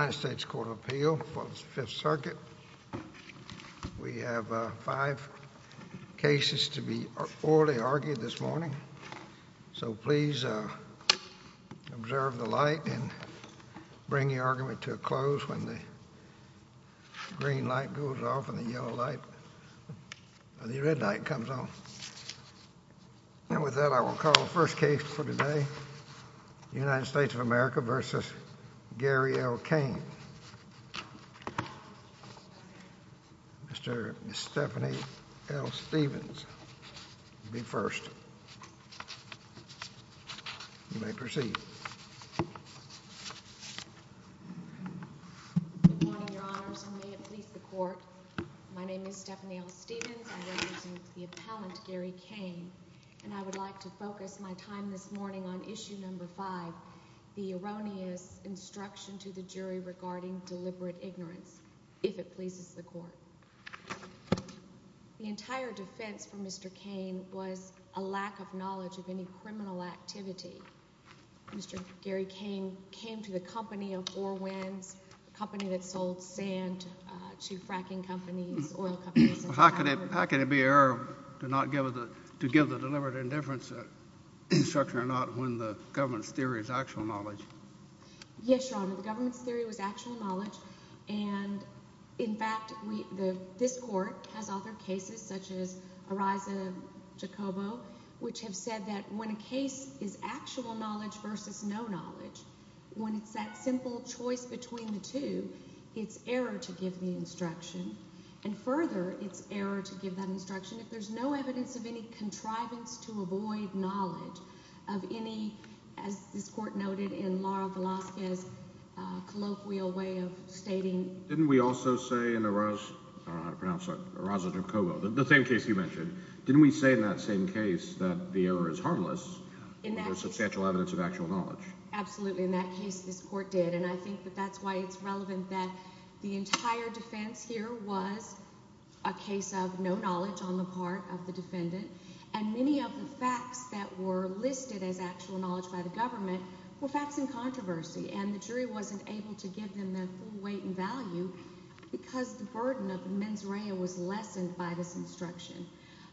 United States Court of Appeal for the Fifth Circuit. We have five cases to be orally argued this morning, so please observe the light and bring the argument to a close when the green light goes off and the yellow light, the red light comes on. And with that I will call the first case for today, the United States of America v. Gary L. Cain. Mr. Stephanie L. Stephens will be first. You may proceed. Good morning, Your Honors, and may it please the Court. My name is Stephanie L. Stephens. I represent the appellant, Gary Cain, and I would like to focus my time this morning on Issue No. 5, the erroneous instruction to the jury regarding deliberate ignorance, if it pleases the Court. The entire defense for Mr. Cain was a lack of knowledge of any criminal activity. Mr. Gary Cain came to the court to give the deliberate indifference to fracking companies, oil companies, and child labor. How can it be error to give the deliberate indifference instruction or not when the government's theory is actual knowledge? Yes, Your Honor, the government's theory was actual knowledge, and, in fact, this Court has authored cases such as Ariza-Jacobo, which have said that when a case is actual knowledge versus no knowledge, when it's that simple choice between the two, it's error to give the instruction, and further, it's error to give that instruction if there's no evidence of any contrivance to avoid knowledge of any, as this Court noted in Laura Velazquez's colloquial way of stating... Didn't we also say in Ariza-Jacobo, the same case you mentioned, didn't we say in that same case that the error is harmless when there's substantial evidence of actual knowledge? Absolutely. In that case, this Court did, and I think that that's why it's relevant that the entire defense here was a case of no knowledge on the part of the defendant, and many of the facts that were listed as actual knowledge by the government were facts in controversy, and the jury wasn't able to give them the full weight and value because the burden of mens rea was lessened by this instruction.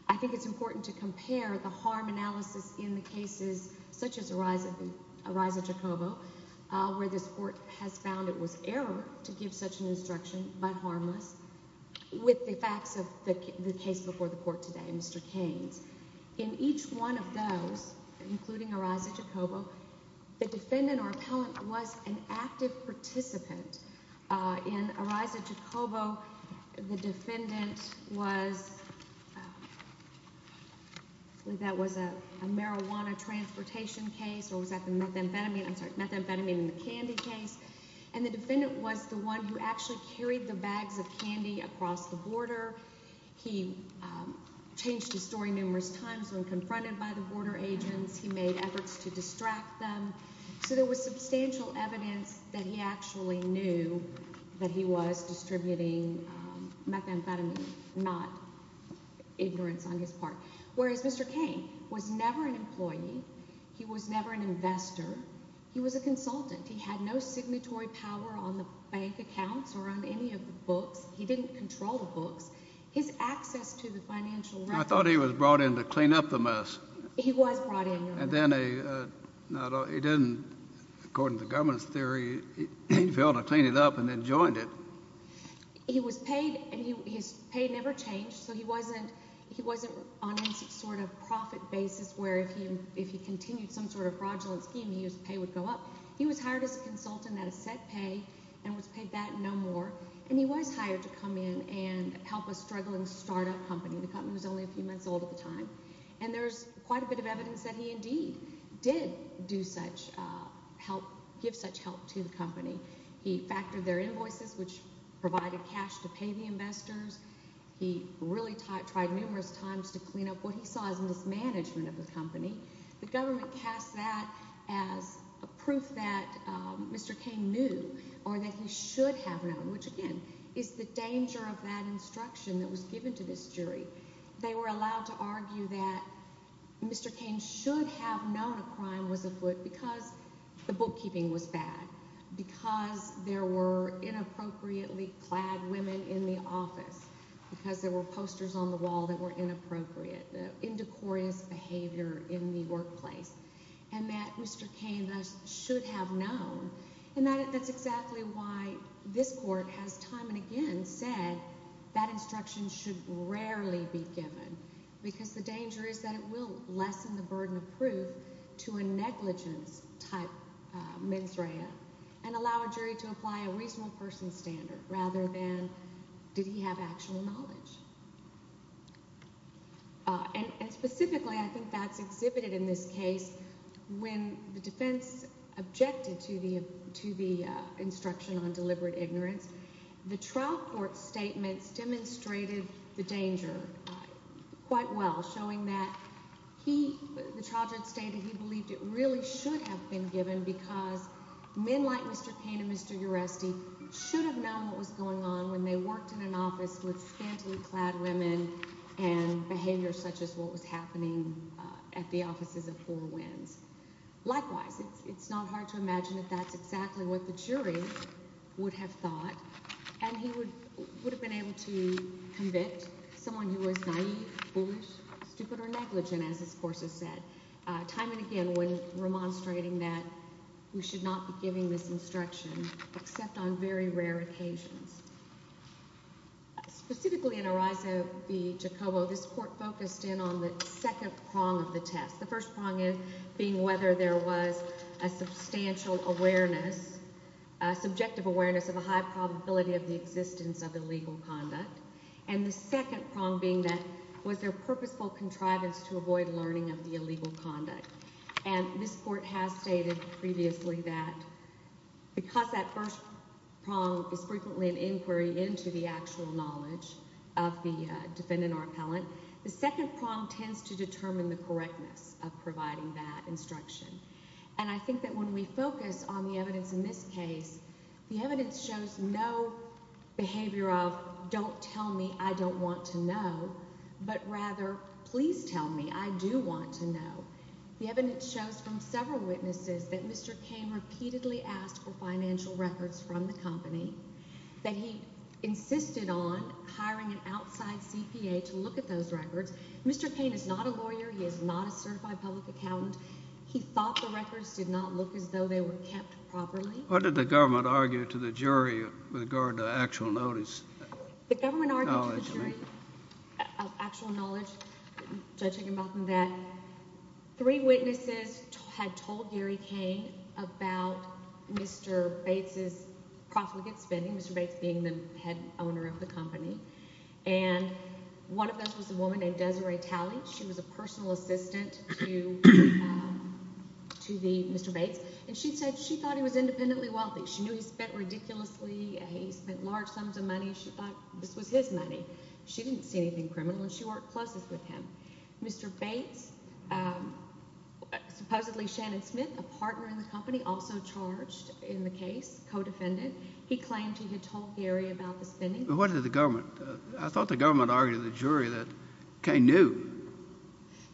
I think it's important to compare the harm analysis in the cases such as Ariza-Jacobo, where this Court has found it was error to give such an instruction, but harmless, with the facts of the case before the Court today, Mr. Keynes. In each one of those, including Ariza-Jacobo, the defendant or appellant was an active participant. In Ariza-Jacobo, the defendant was... I believe that was a marijuana transportation case, or was that the methamphetamine, I'm sorry, methamphetamine in the candy case, and the defendant was the one who actually carried the bags of candy across the border. He changed his story numerous times when confronted by the border agents. He made efforts to distract them. So there was substantial evidence that he actually knew that he was distributing methamphetamine, not ignorance on his part. Whereas Mr. Keynes was never an employee. He was never an investor. He was a consultant. He had no signatory power on the bank accounts or on any of the books. He didn't control the books. His access to the financial records... I thought he was brought in to clean up the mess. He was brought in. And then he didn't, according to the government's theory, he failed to clean it up and then joined it. He was paid, and his pay never changed, so he wasn't on any sort of profit basis where if he continued some sort of fraudulent scheme, his pay would go up. He was hired as a consultant at a set pay and was paid that and no more, and he was hired to come in and help a struggling quite a bit of evidence that he indeed did give such help to the company. He factored their invoices, which provided cash to pay the investors. He really tried numerous times to clean up what he saw as mismanagement of the company. The government cast that as a proof that Mr. Keynes knew or that he should have known, which again is the danger of that instruction that was given to this jury. They were allowed to argue that Mr. Keynes should have known a crime was afoot because the bookkeeping was bad, because there were inappropriately clad women in the office, because there were posters on the wall that were inappropriate, the indecorious behavior in the workplace, and that Mr. Keynes should have known. That's exactly why this court has time and again said that instruction should rarely be given because the danger is that it will lessen the burden of proof to a negligence type mens rea and allow a jury to apply a reasonable person standard rather than did he have actual knowledge. And specifically, I think that's exhibited in this case when the defense objected to the instruction on deliberate ignorance. The trial court statements demonstrated the danger quite well, showing that the trial judge stated he believed it really should have been given because men like Mr. Keynes and Mr. Uresti should have known what was going on when they had clad women and behavior such as what was happening at the offices of Four Winds. Likewise, it's not hard to imagine that that's exactly what the jury would have thought, and he would have been able to convict someone who was naive, foolish, stupid, or negligent, as this court has said, time and again when remonstrating that we should not be giving this instruction except on very rare occasions. Specifically in Arezzo v. Giacobbo, this court focused in on the second prong of the test, the first prong being whether there was a substantial awareness, subjective awareness of a high probability of the existence of illegal conduct, and the second prong being that was there purposeful contrivance to avoid learning of the illegal conduct. And this first prong is frequently an inquiry into the actual knowledge of the defendant or appellant. The second prong tends to determine the correctness of providing that instruction. And I think that when we focus on the evidence in this case, the evidence shows no behavior of, don't tell me, I don't want to know, but rather, please tell me, I do want to know. The evidence shows from several witnesses that Mr. Cain repeatedly asked for financial records from the company, that he insisted on hiring an outside CPA to look at those records. Mr. Cain is not a lawyer. He is not a certified public accountant. He thought the records did not look as though they were kept properly. What did the government argue to the jury with regard to actual notice? The government argued to the jury of actual knowledge, Judge Higginbotham, that three witnesses had told Gary Cain about Mr. Bates' profligate spending, Mr. Bates being the head owner of the company, and one of those was a woman named Desiree Talley. She was a personal assistant to Mr. Bates, and she said she thought he was independently wealthy. She knew he spent ridiculously, he spent large sums of money. She thought this was his money. She didn't see anything criminal, and she worked closest with him. Mr. Bates, supposedly Shannon Smith, a partner in the company, also charged in the case, co-defendant, he claimed he had told Gary about the spending. What did the government, I thought the government argued to the jury that Cain knew.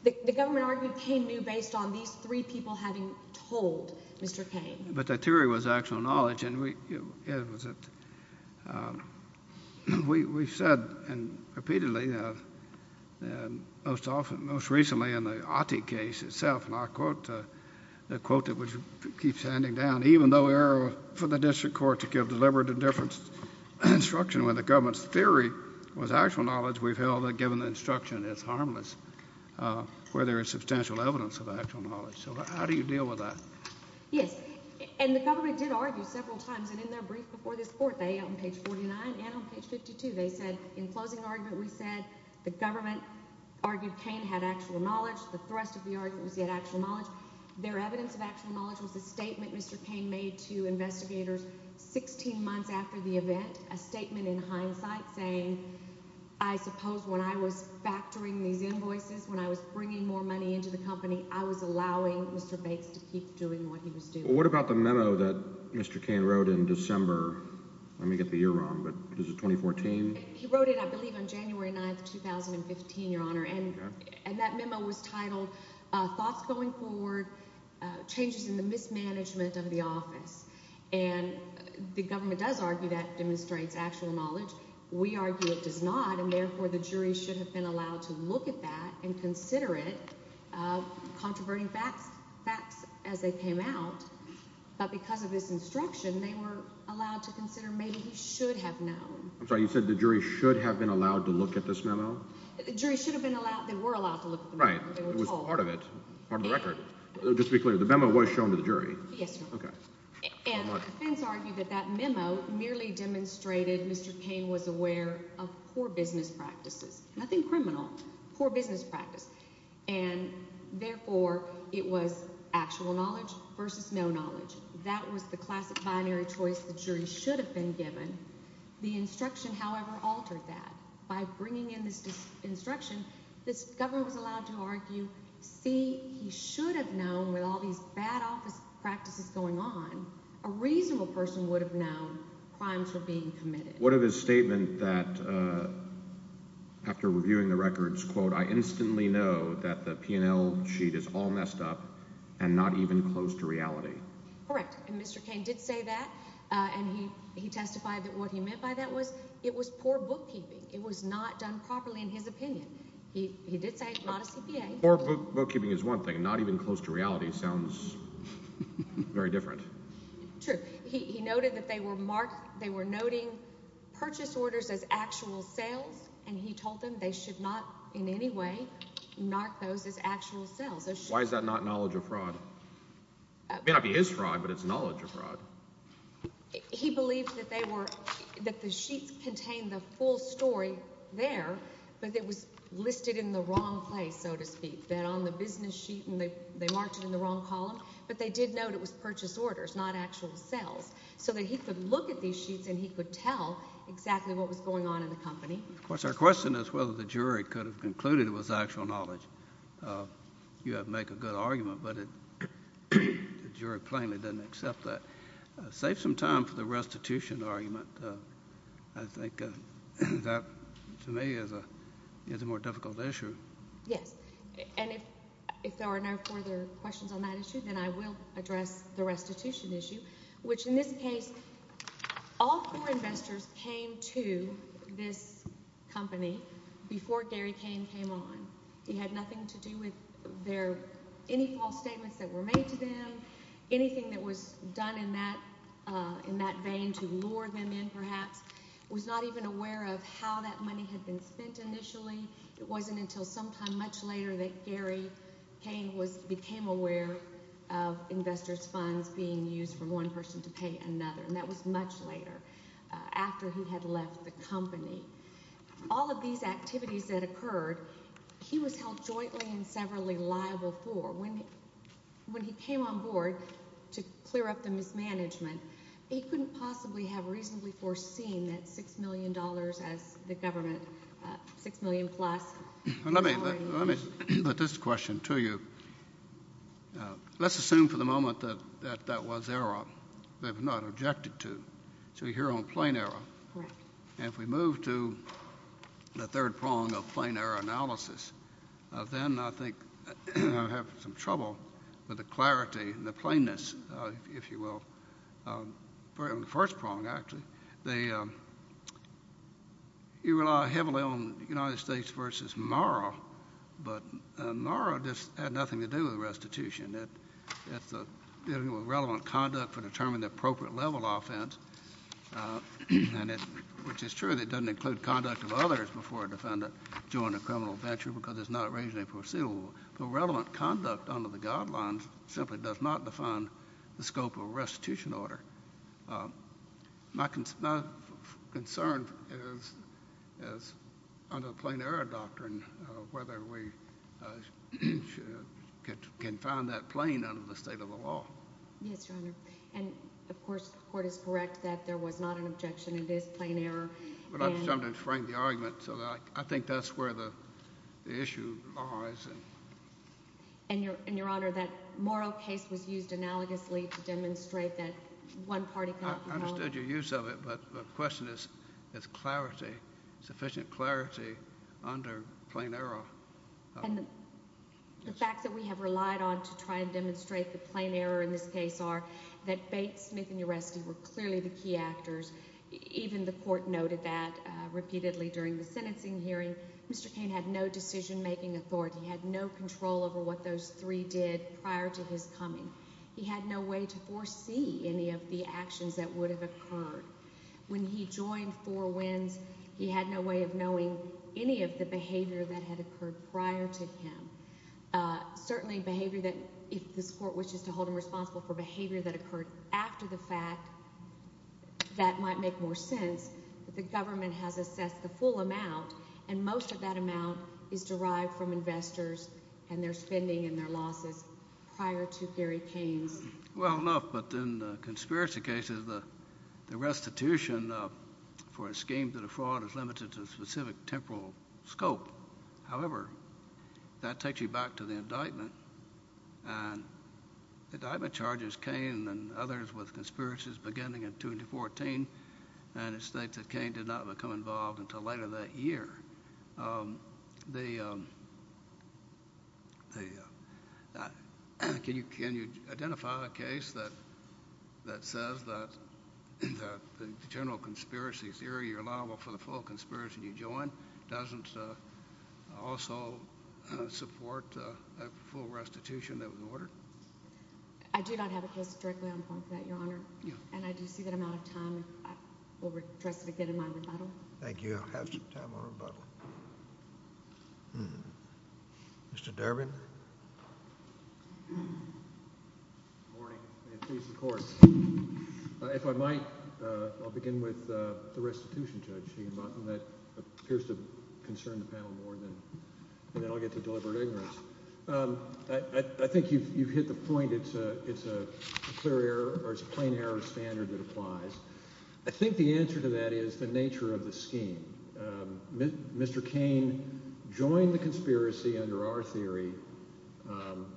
The government argued Cain knew based on these three people having told Mr. Cain. But the theory was actual knowledge, and we've said repeatedly, most recently in the Ottey case itself, and I quote the quote that keeps handing down, even though we are for the district court to give deliberate and different instruction when the government's theory was actual knowledge, we've held that given the instruction, it's harmless where there is substantial evidence of actual knowledge. So how do you deal with that? Yes, and the government did argue several times, and in their brief before this court, they, on page 49 and on page 52, they said, in closing argument, we said the government argued Cain had actual knowledge. The thrust of the argument was he had actual knowledge. Their evidence of actual knowledge was a statement Mr. Cain made to investigators 16 months after the event, a statement in hindsight saying, I suppose when I was factoring these invoices, when I was bringing more money into the company, I was allowing Mr. Bates to keep doing what he was doing. Well, what about the memo that Mr. Cain wrote in December? Let me get the year wrong, but is it 2014? He wrote it, I believe, on January 9, 2015, Your Honor, and that memo was titled, Thoughts going forward, changes in the mismanagement of the office. And the government does argue that demonstrates actual knowledge. We argue it does not, and therefore the jury should have been allowed to look at that and consider it, controverting facts as they came out, but because of his instruction, they were allowed to consider maybe he should have known. I'm sorry, you said the jury should have been allowed to look at this memo? The jury should have been allowed, they were allowed to look at the memo, they were told. Right, it was part of it, part of the record. Just to be clear, the memo was shown to the jury? Yes, Your Honor. Okay. And the defense argued that that memo merely demonstrated Mr. Cain was aware of poor business practices, nothing criminal, poor business practice, and therefore it was actual knowledge versus no knowledge. That was the classic binary choice the jury should have been given. The instruction, however, altered that. By bringing in this instruction, the government was allowed to argue, see, he should have known with all these bad office practices going on, a reasonable person would have known crimes were being committed. What of his statement that after reviewing the records, quote, I instantly know that the P&L sheet is all messed up and not even close to reality? Correct, and Mr. Cain did say that, and he testified that what he meant by that was it was poor bookkeeping, it was not done properly in his opinion. He did say it's not a CPA. Poor bookkeeping is one thing, not even close to reality sounds very different. True. He noted that they were marked, they were noting purchase orders as actual sales, and he told them they should not in any way mark those as actual sales. Why is that not knowledge of fraud? It may not be his fraud, but it's knowledge of fraud. He believed that they were, that the sheets contained the full story there, but it was listed in the wrong place, so to speak, that on the business sheet, and they marked it in the wrong column, but they did note it was purchase orders, not actual sales, so that he could look at these sheets and he could tell exactly what was going on in the company. Of course, our question is whether the jury could have concluded it was actual knowledge. You have to make a good argument, but the jury plainly doesn't accept that. Save some time for the restitution argument. I think that, to me, is a more difficult issue. Yes, and if there are no further questions on that issue, then I will address the restitution issue, which in this case, all four investors came to this company before Gary Cain came on. He had nothing to do with any false statements that were made to them, anything that was done in that vein to lure them in, perhaps, was not even aware of how that money had been spent initially. It wasn't until sometime much later that Gary Cain became aware of investors' funds being used for one person to pay another, and that was much later, after he had left the company. All of these activities that occurred, he was held jointly and severally liable for. When he came on board to clear up the mismanagement, he couldn't possibly have reasonably foreseen that $6 million as the government, $6 million plus. Let me put this question to you. Let's assume for the moment that that was error. They've not objected to. So you're here on plain error. Correct. If we move to the third prong of plain error analysis, then I think I have some trouble with the clarity and the plainness, if you will, in the first prong, actually. You rely heavily on United States v. Morrow, but Morrow just had nothing to do with restitution. It's dealing with relevant conduct for determining the appropriate level offense, which is true that it doesn't include conduct of others before a defendant joined a criminal venture because it's not reasonably foreseeable. But relevant conduct under the guidelines simply does not define the scope of a restitution order. My concern is, under the plain error doctrine, whether we can find that plain under the state of the law. Yes, Your Honor. And, of course, the Court is correct that there was not an objection. It is plain error. But I'm just trying to frame the argument. So I think that's where the issue lies. And, Your Honor, that Morrow case was used analogously to demonstrate that one party could not be held. I understood your use of it, but the question is, is clarity, sufficient clarity under plain error? And the facts that we have relied on to try and demonstrate the plain error in this case are that Bates, Smith, and Uresti were clearly the key actors. Even the Court noted that repeatedly during the sentencing hearing. Mr. Cain had no decision-making authority. He had no control over what those three did prior to his coming. He had no way to foresee any of the actions that would have occurred. When he joined Four Winds, he had no way of knowing any of the behavior that had occurred prior to him, certainly behavior that, if this Court wishes to hold him responsible for behavior that occurred after the fact, that might make more sense. But the government has assessed the full amount, and most of that amount is derived from investors and their spending and their losses prior to Gary Cain's. Well, enough. But in the conspiracy cases, the restitution for a scheme to defraud is that the government charges Cain and others with conspiracies beginning in 2014, and it states that Cain did not become involved until later that year. Can you identify a case that says that the general conspiracy theory, you're liable for the full conspiracy you join, doesn't also support a full restitution that was ordered? I do not have a case directly on point for that, Your Honor. Yeah. And I do see that I'm out of time. I will trust it again in my rebuttal. Thank you. You have some time on rebuttal. Mr. Durbin? Good morning, and please, the Court. If I might, I'll begin with the restitution, Judge Keegan-Maughton. That appears to concern the panel more than I'll get to deliberate ignorance. I think you've hit the point. It's a clear error, or it's a plain error standard that applies. I think the answer to that is the nature of the scheme. Mr. Cain joined the conspiracy under our theory,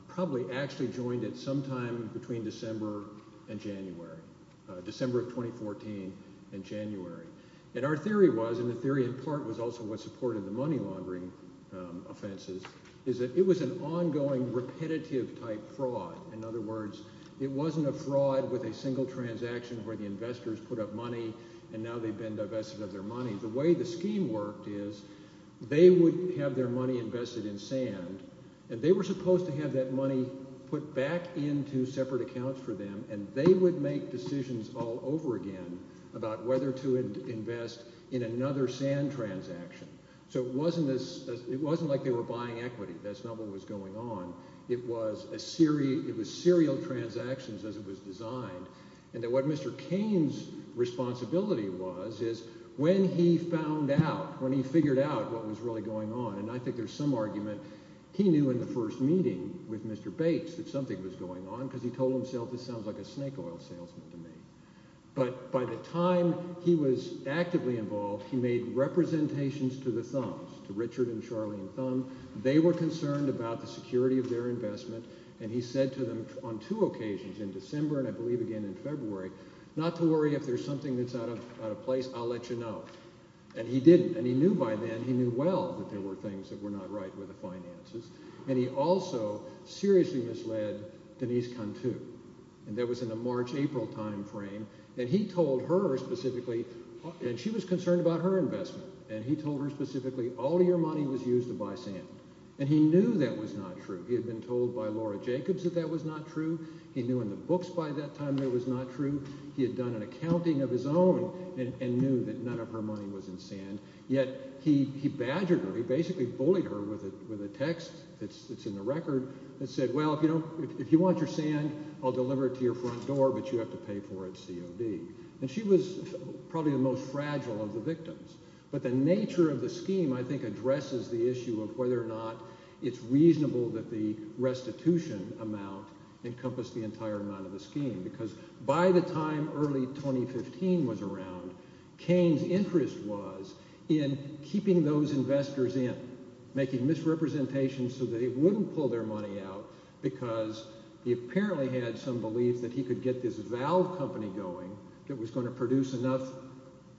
probably actually joined it sometime between December and January, December of 2014 and January. And our theory was, and the theory in part was also what supported the money laundering offenses, is that it was an ongoing repetitive type fraud. In other words, it wasn't a fraud with a single transaction where the investors put up money, and now they've been divested of their money. The way the scheme worked is they would have their money invested in sand, and they were supposed to have that invested in them, and they would make decisions all over again about whether to invest in another sand transaction. So it wasn't like they were buying equity. That's not what was going on. It was serial transactions as it was designed. And what Mr. Cain's responsibility was is when he found out, when he figured out what was really going on, and I think there's some argument, he knew in the first meeting with Mr. Bates that something was really going on, because he told himself, this sounds like a snake oil salesman to me. But by the time he was actively involved, he made representations to the Thumbs, to Richard and Charlene Thumb. They were concerned about the security of their investment, and he said to them on two occasions, in December and I believe again in February, not to worry if there's something that's out of place, I'll let you know. And he didn't. And he knew by then, he knew well that there were things that were not right with the finances. And he also seriously misled Denise Cantu. And that was in the March-April timeframe. And he told her specifically, and she was concerned about her investment, and he told her specifically all your money was used to buy sand. And he knew that was not true. He had been told by Laura Jacobs that that was not true. He knew in the books by that time that it was not true. He had done an accounting of his own and knew that none of her money was in sand. Yet he badgered her, he basically bullied her with a text that's in the record that said, well, if you want your sand, I'll deliver it to your front door, but you have to pay for it COD. And she was probably the most fragile of the victims. But the nature of the scheme I think addresses the issue of whether or not it's reasonable that the restitution amount encompassed the entire amount of the scheme. Because by the time early 2015 was around, Cain's interest was in keeping those investors in, making misrepresentations so that he wouldn't pull their money out because he apparently had some belief that he could get this valve company going that was going to produce enough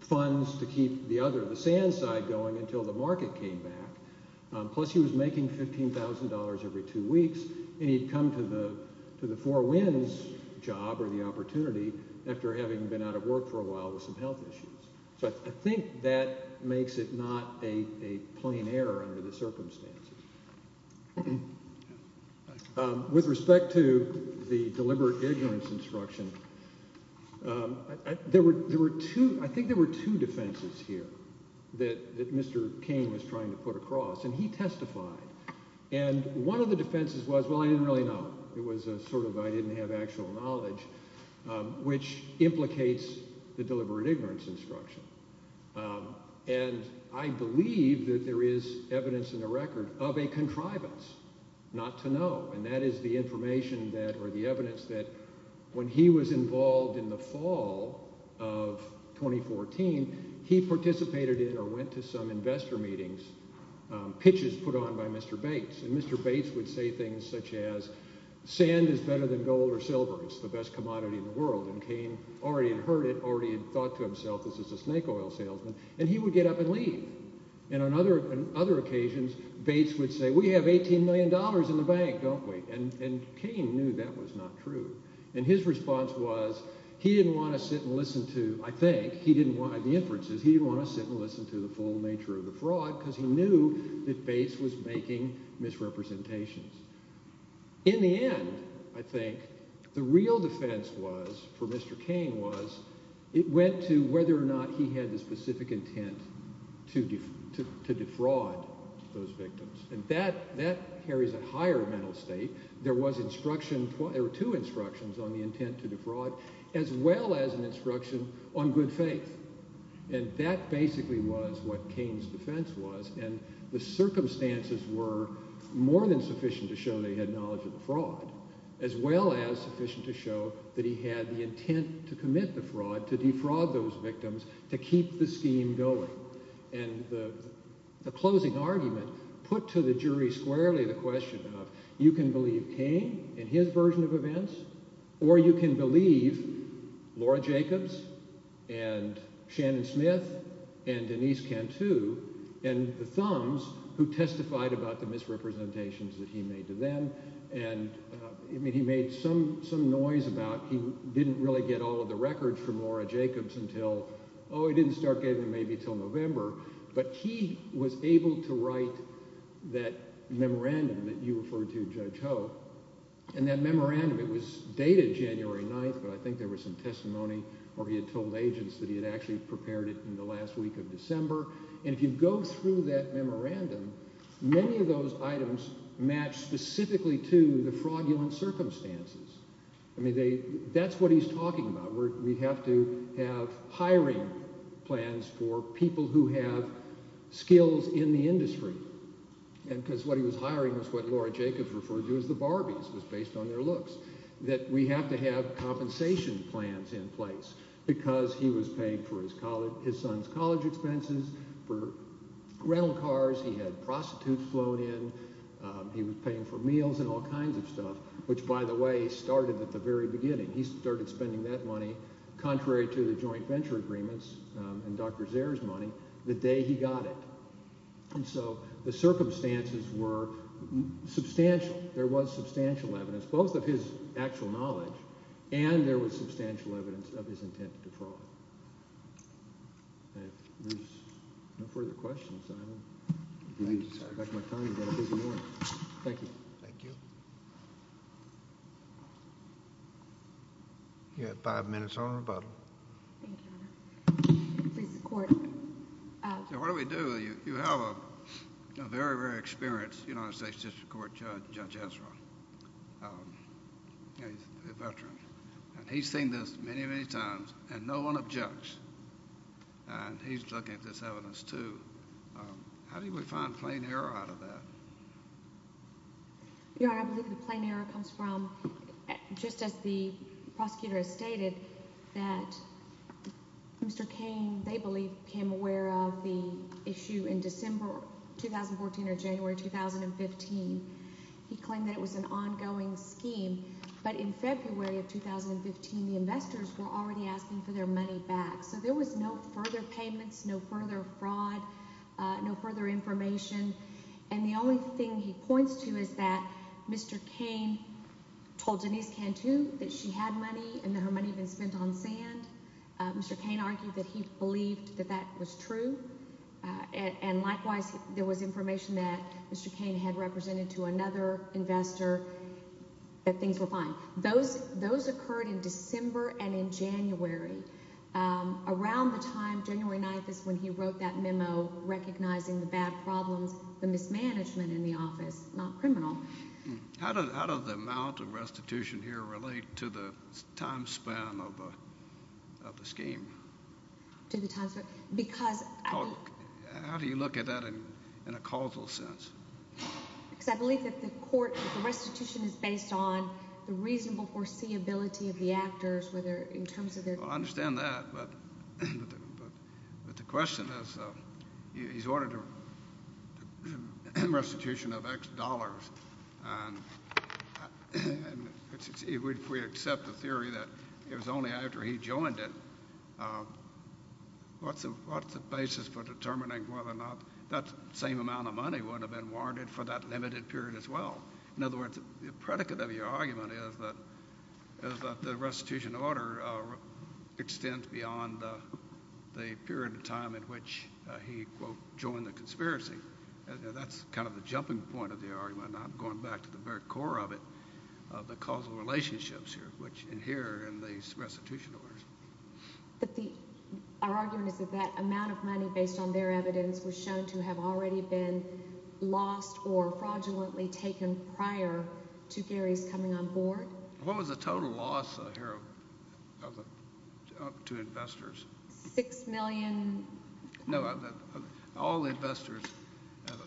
funds to keep the other, the sand side going until the market came back. Plus he was making $15,000 every two weeks and he'd come to the four wins job or the opportunity after having been out of jail for a while with some health issues. So I think that makes it not a plain error under the circumstances. With respect to the deliberate ignorance instruction, there were two, I think there were two defenses here that Mr. Cain was trying to put across and he testified. And one of the defenses was, well, I didn't really know. It was a sort of I didn't have actual knowledge, which implicates the deliberate ignorance instruction. And I believe that there is evidence in the record of a contrivance, not to know. And that is the information that or the evidence that when he was involved in the fall of 2014, he participated in or went to some investor meetings, pitches put on by Mr. Bates. And Mr. Bates would say things such as, sand is better than gold or silver. It's the best commodity in the world. And Cain already had heard it, already had thought to himself, this is a snake oil salesman. And he would get up and leave. And on other occasions, Bates would say, we have $18 million in the bank, don't we? And Cain knew that was not true. And his response was, he didn't want to sit and listen to, I think, he didn't want the inferences, he didn't want to sit and listen to the full nature of the fraud because he knew that Bates was making misrepresentations. In the end, I think, the real defense was for Mr. Cain was, it went to whether or not he had the specific intent to defraud those victims. And that carries a higher mental state. There was instruction, there were two instructions on the intent to defraud, as well as an instruction on good faith. And that basically was what Cain's defense was. And the circumstances were more than sufficient to show they had knowledge of the fraud, as well as sufficient to show that he had the intent to commit the fraud, to defraud those victims, to keep the scheme going. And the closing argument put to the jury squarely the question of, you can believe Cain and Denise Cantu and the Thumbs who testified about the misrepresentations that he made to them. And, I mean, he made some noise about, he didn't really get all of the records from Laura Jacobs until, oh, he didn't start getting them maybe until November. But he was able to write that memorandum that you referred to, Judge Ho. And that memorandum, it was dated January 9th, but I think there was some testimony where he had told agents that he had actually prepared it in the last week of December. And if you go through that memorandum, many of those items match specifically to the fraudulent circumstances. I mean, they, that's what he's talking about, where we have to have hiring plans for people who have skills in the industry. And because what he was hiring was what Laura Jacobs referred to as the Barbies, was based on their looks. That we have to have compensation plans in place because he was paying for his son's college expenses, for rental cars, he had prostitutes flown in, he was paying for meals and all kinds of stuff, which, by the way, started at the very beginning. He started spending that money, contrary to the joint venture agreements and Dr. Zare's money, the day he got it. And so the circumstances were substantial. There was substantial evidence, both of his actual knowledge and there was substantial evidence of his intent to fraud. If there's no further questions, I would like my time to go to busy morning. Thank you. Thank you. You have five minutes on rebuttal. Thank you, Your Honor. Please support. What do we do? You have a very, very experienced United States District Court judge, Judge Sessions, and no one objects. And he's looking at this evidence, too. How do we find plain error out of that? Your Honor, I believe the plain error comes from, just as the prosecutor has stated, that Mr. Cain, they believe, became aware of the issue in December 2014 or January 2015. He claimed that it was an ongoing scheme. But in February of 2015, the investors were already asking for their money back. So there was no further payments, no further fraud, no further information. And the only thing he points to is that Mr. Cain told Denise Cantu that she had money and that her money had been spent on sand. Mr. Cain argued that he believed that that was true. And likewise, there was information that Mr. Cain had represented to another investor that things were fine. Those occurred in December and in January. Around the time, January 9th, is when he wrote that memo recognizing the bad problems, the mismanagement in the office, not criminal. How does the amount of restitution here relate to the time span of the scheme? To the time span? Because— How do you look at that in a causal sense? Because I believe that the court, the restitution is based on the reasonable foreseeability of the actors, whether in terms of their— Well, I understand that. But the question is, he's ordered a restitution of X dollars. And if we accept the theory that it was only after he joined it, what's the basis for determining whether or not that same amount of money would have been warranted for that limited period as well? In other words, the predicate of your argument is that the restitution order extends beyond the period of time in which he, quote, joined the conspiracy. That's kind of the jumping point of the argument. I'm going back to the very core of it, of the causal relationships here, which adhere in these restitution orders. But our argument is that that amount of money, based on their evidence, was shown to have already been lost or fraudulently taken prior to Gary's coming on board? What was the total loss here to investors? Six million? No, all the investors.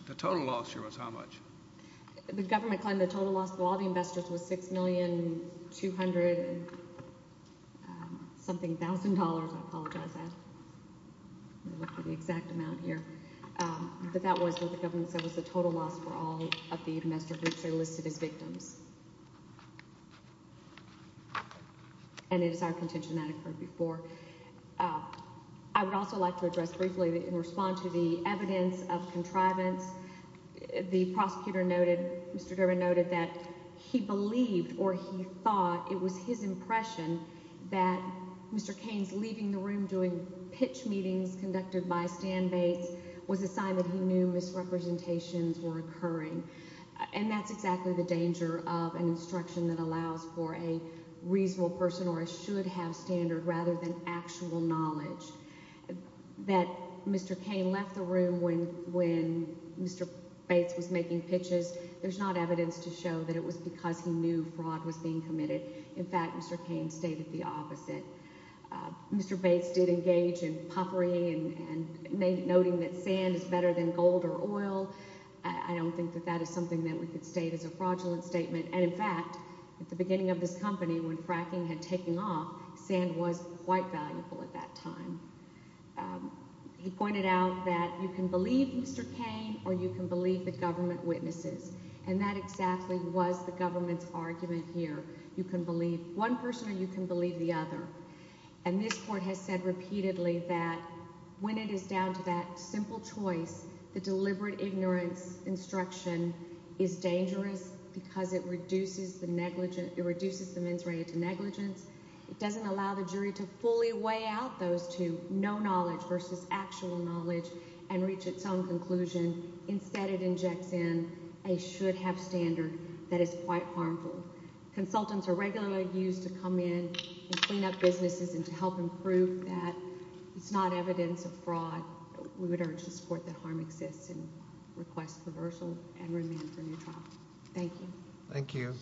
The total loss here was how much? The government claimed the total loss to all the investors was $6,200,000-something. I apologize. I looked at the exact amount here. But that was what the government said was the total loss for all of the investors, which they listed as victims. And it is our contention that occurred before. I would also like to address briefly, in response to the evidence of contrivance, the prosecutor noted, Mr. Durbin noted, that he believed or he thought, it was his impression, that Mr. Cain's leaving the room during pitch meetings conducted by stand-bates was a sign that he knew misrepresentations were occurring. And that's exactly the danger of an instruction that allows for a reasonable person, or a person who should have standard rather than actual knowledge. That Mr. Cain left the room when Mr. Bates was making pitches, there's not evidence to show that it was because he knew fraud was being committed. In fact, Mr. Cain stated the opposite. Mr. Bates did engage in puffery and noting that sand is better than gold or oil. I don't think that that is something that we could state as a fraudulent statement. And in fact, at the beginning of this company, when fracking had taken off, sand was quite valuable at that time. He pointed out that you can believe Mr. Cain or you can believe the government witnesses. And that exactly was the government's argument here. You can believe one person or you can believe the other. And this Court has said repeatedly that when it is down to that simple choice, the deliberate ignorance instruction is dangerous because it reduces the mens rea to negligence. It doesn't allow the jury to fully weigh out those two, no knowledge versus actual knowledge, and reach its own conclusion. Instead, it injects in a should-have standard that is quite harmful. Consultants are regularly used to come in and clean up businesses and to help them prove that it's not evidence of fraud. We would urge this Court that harm exists and request reversal and remand for a new trial. Thank you. Thank you.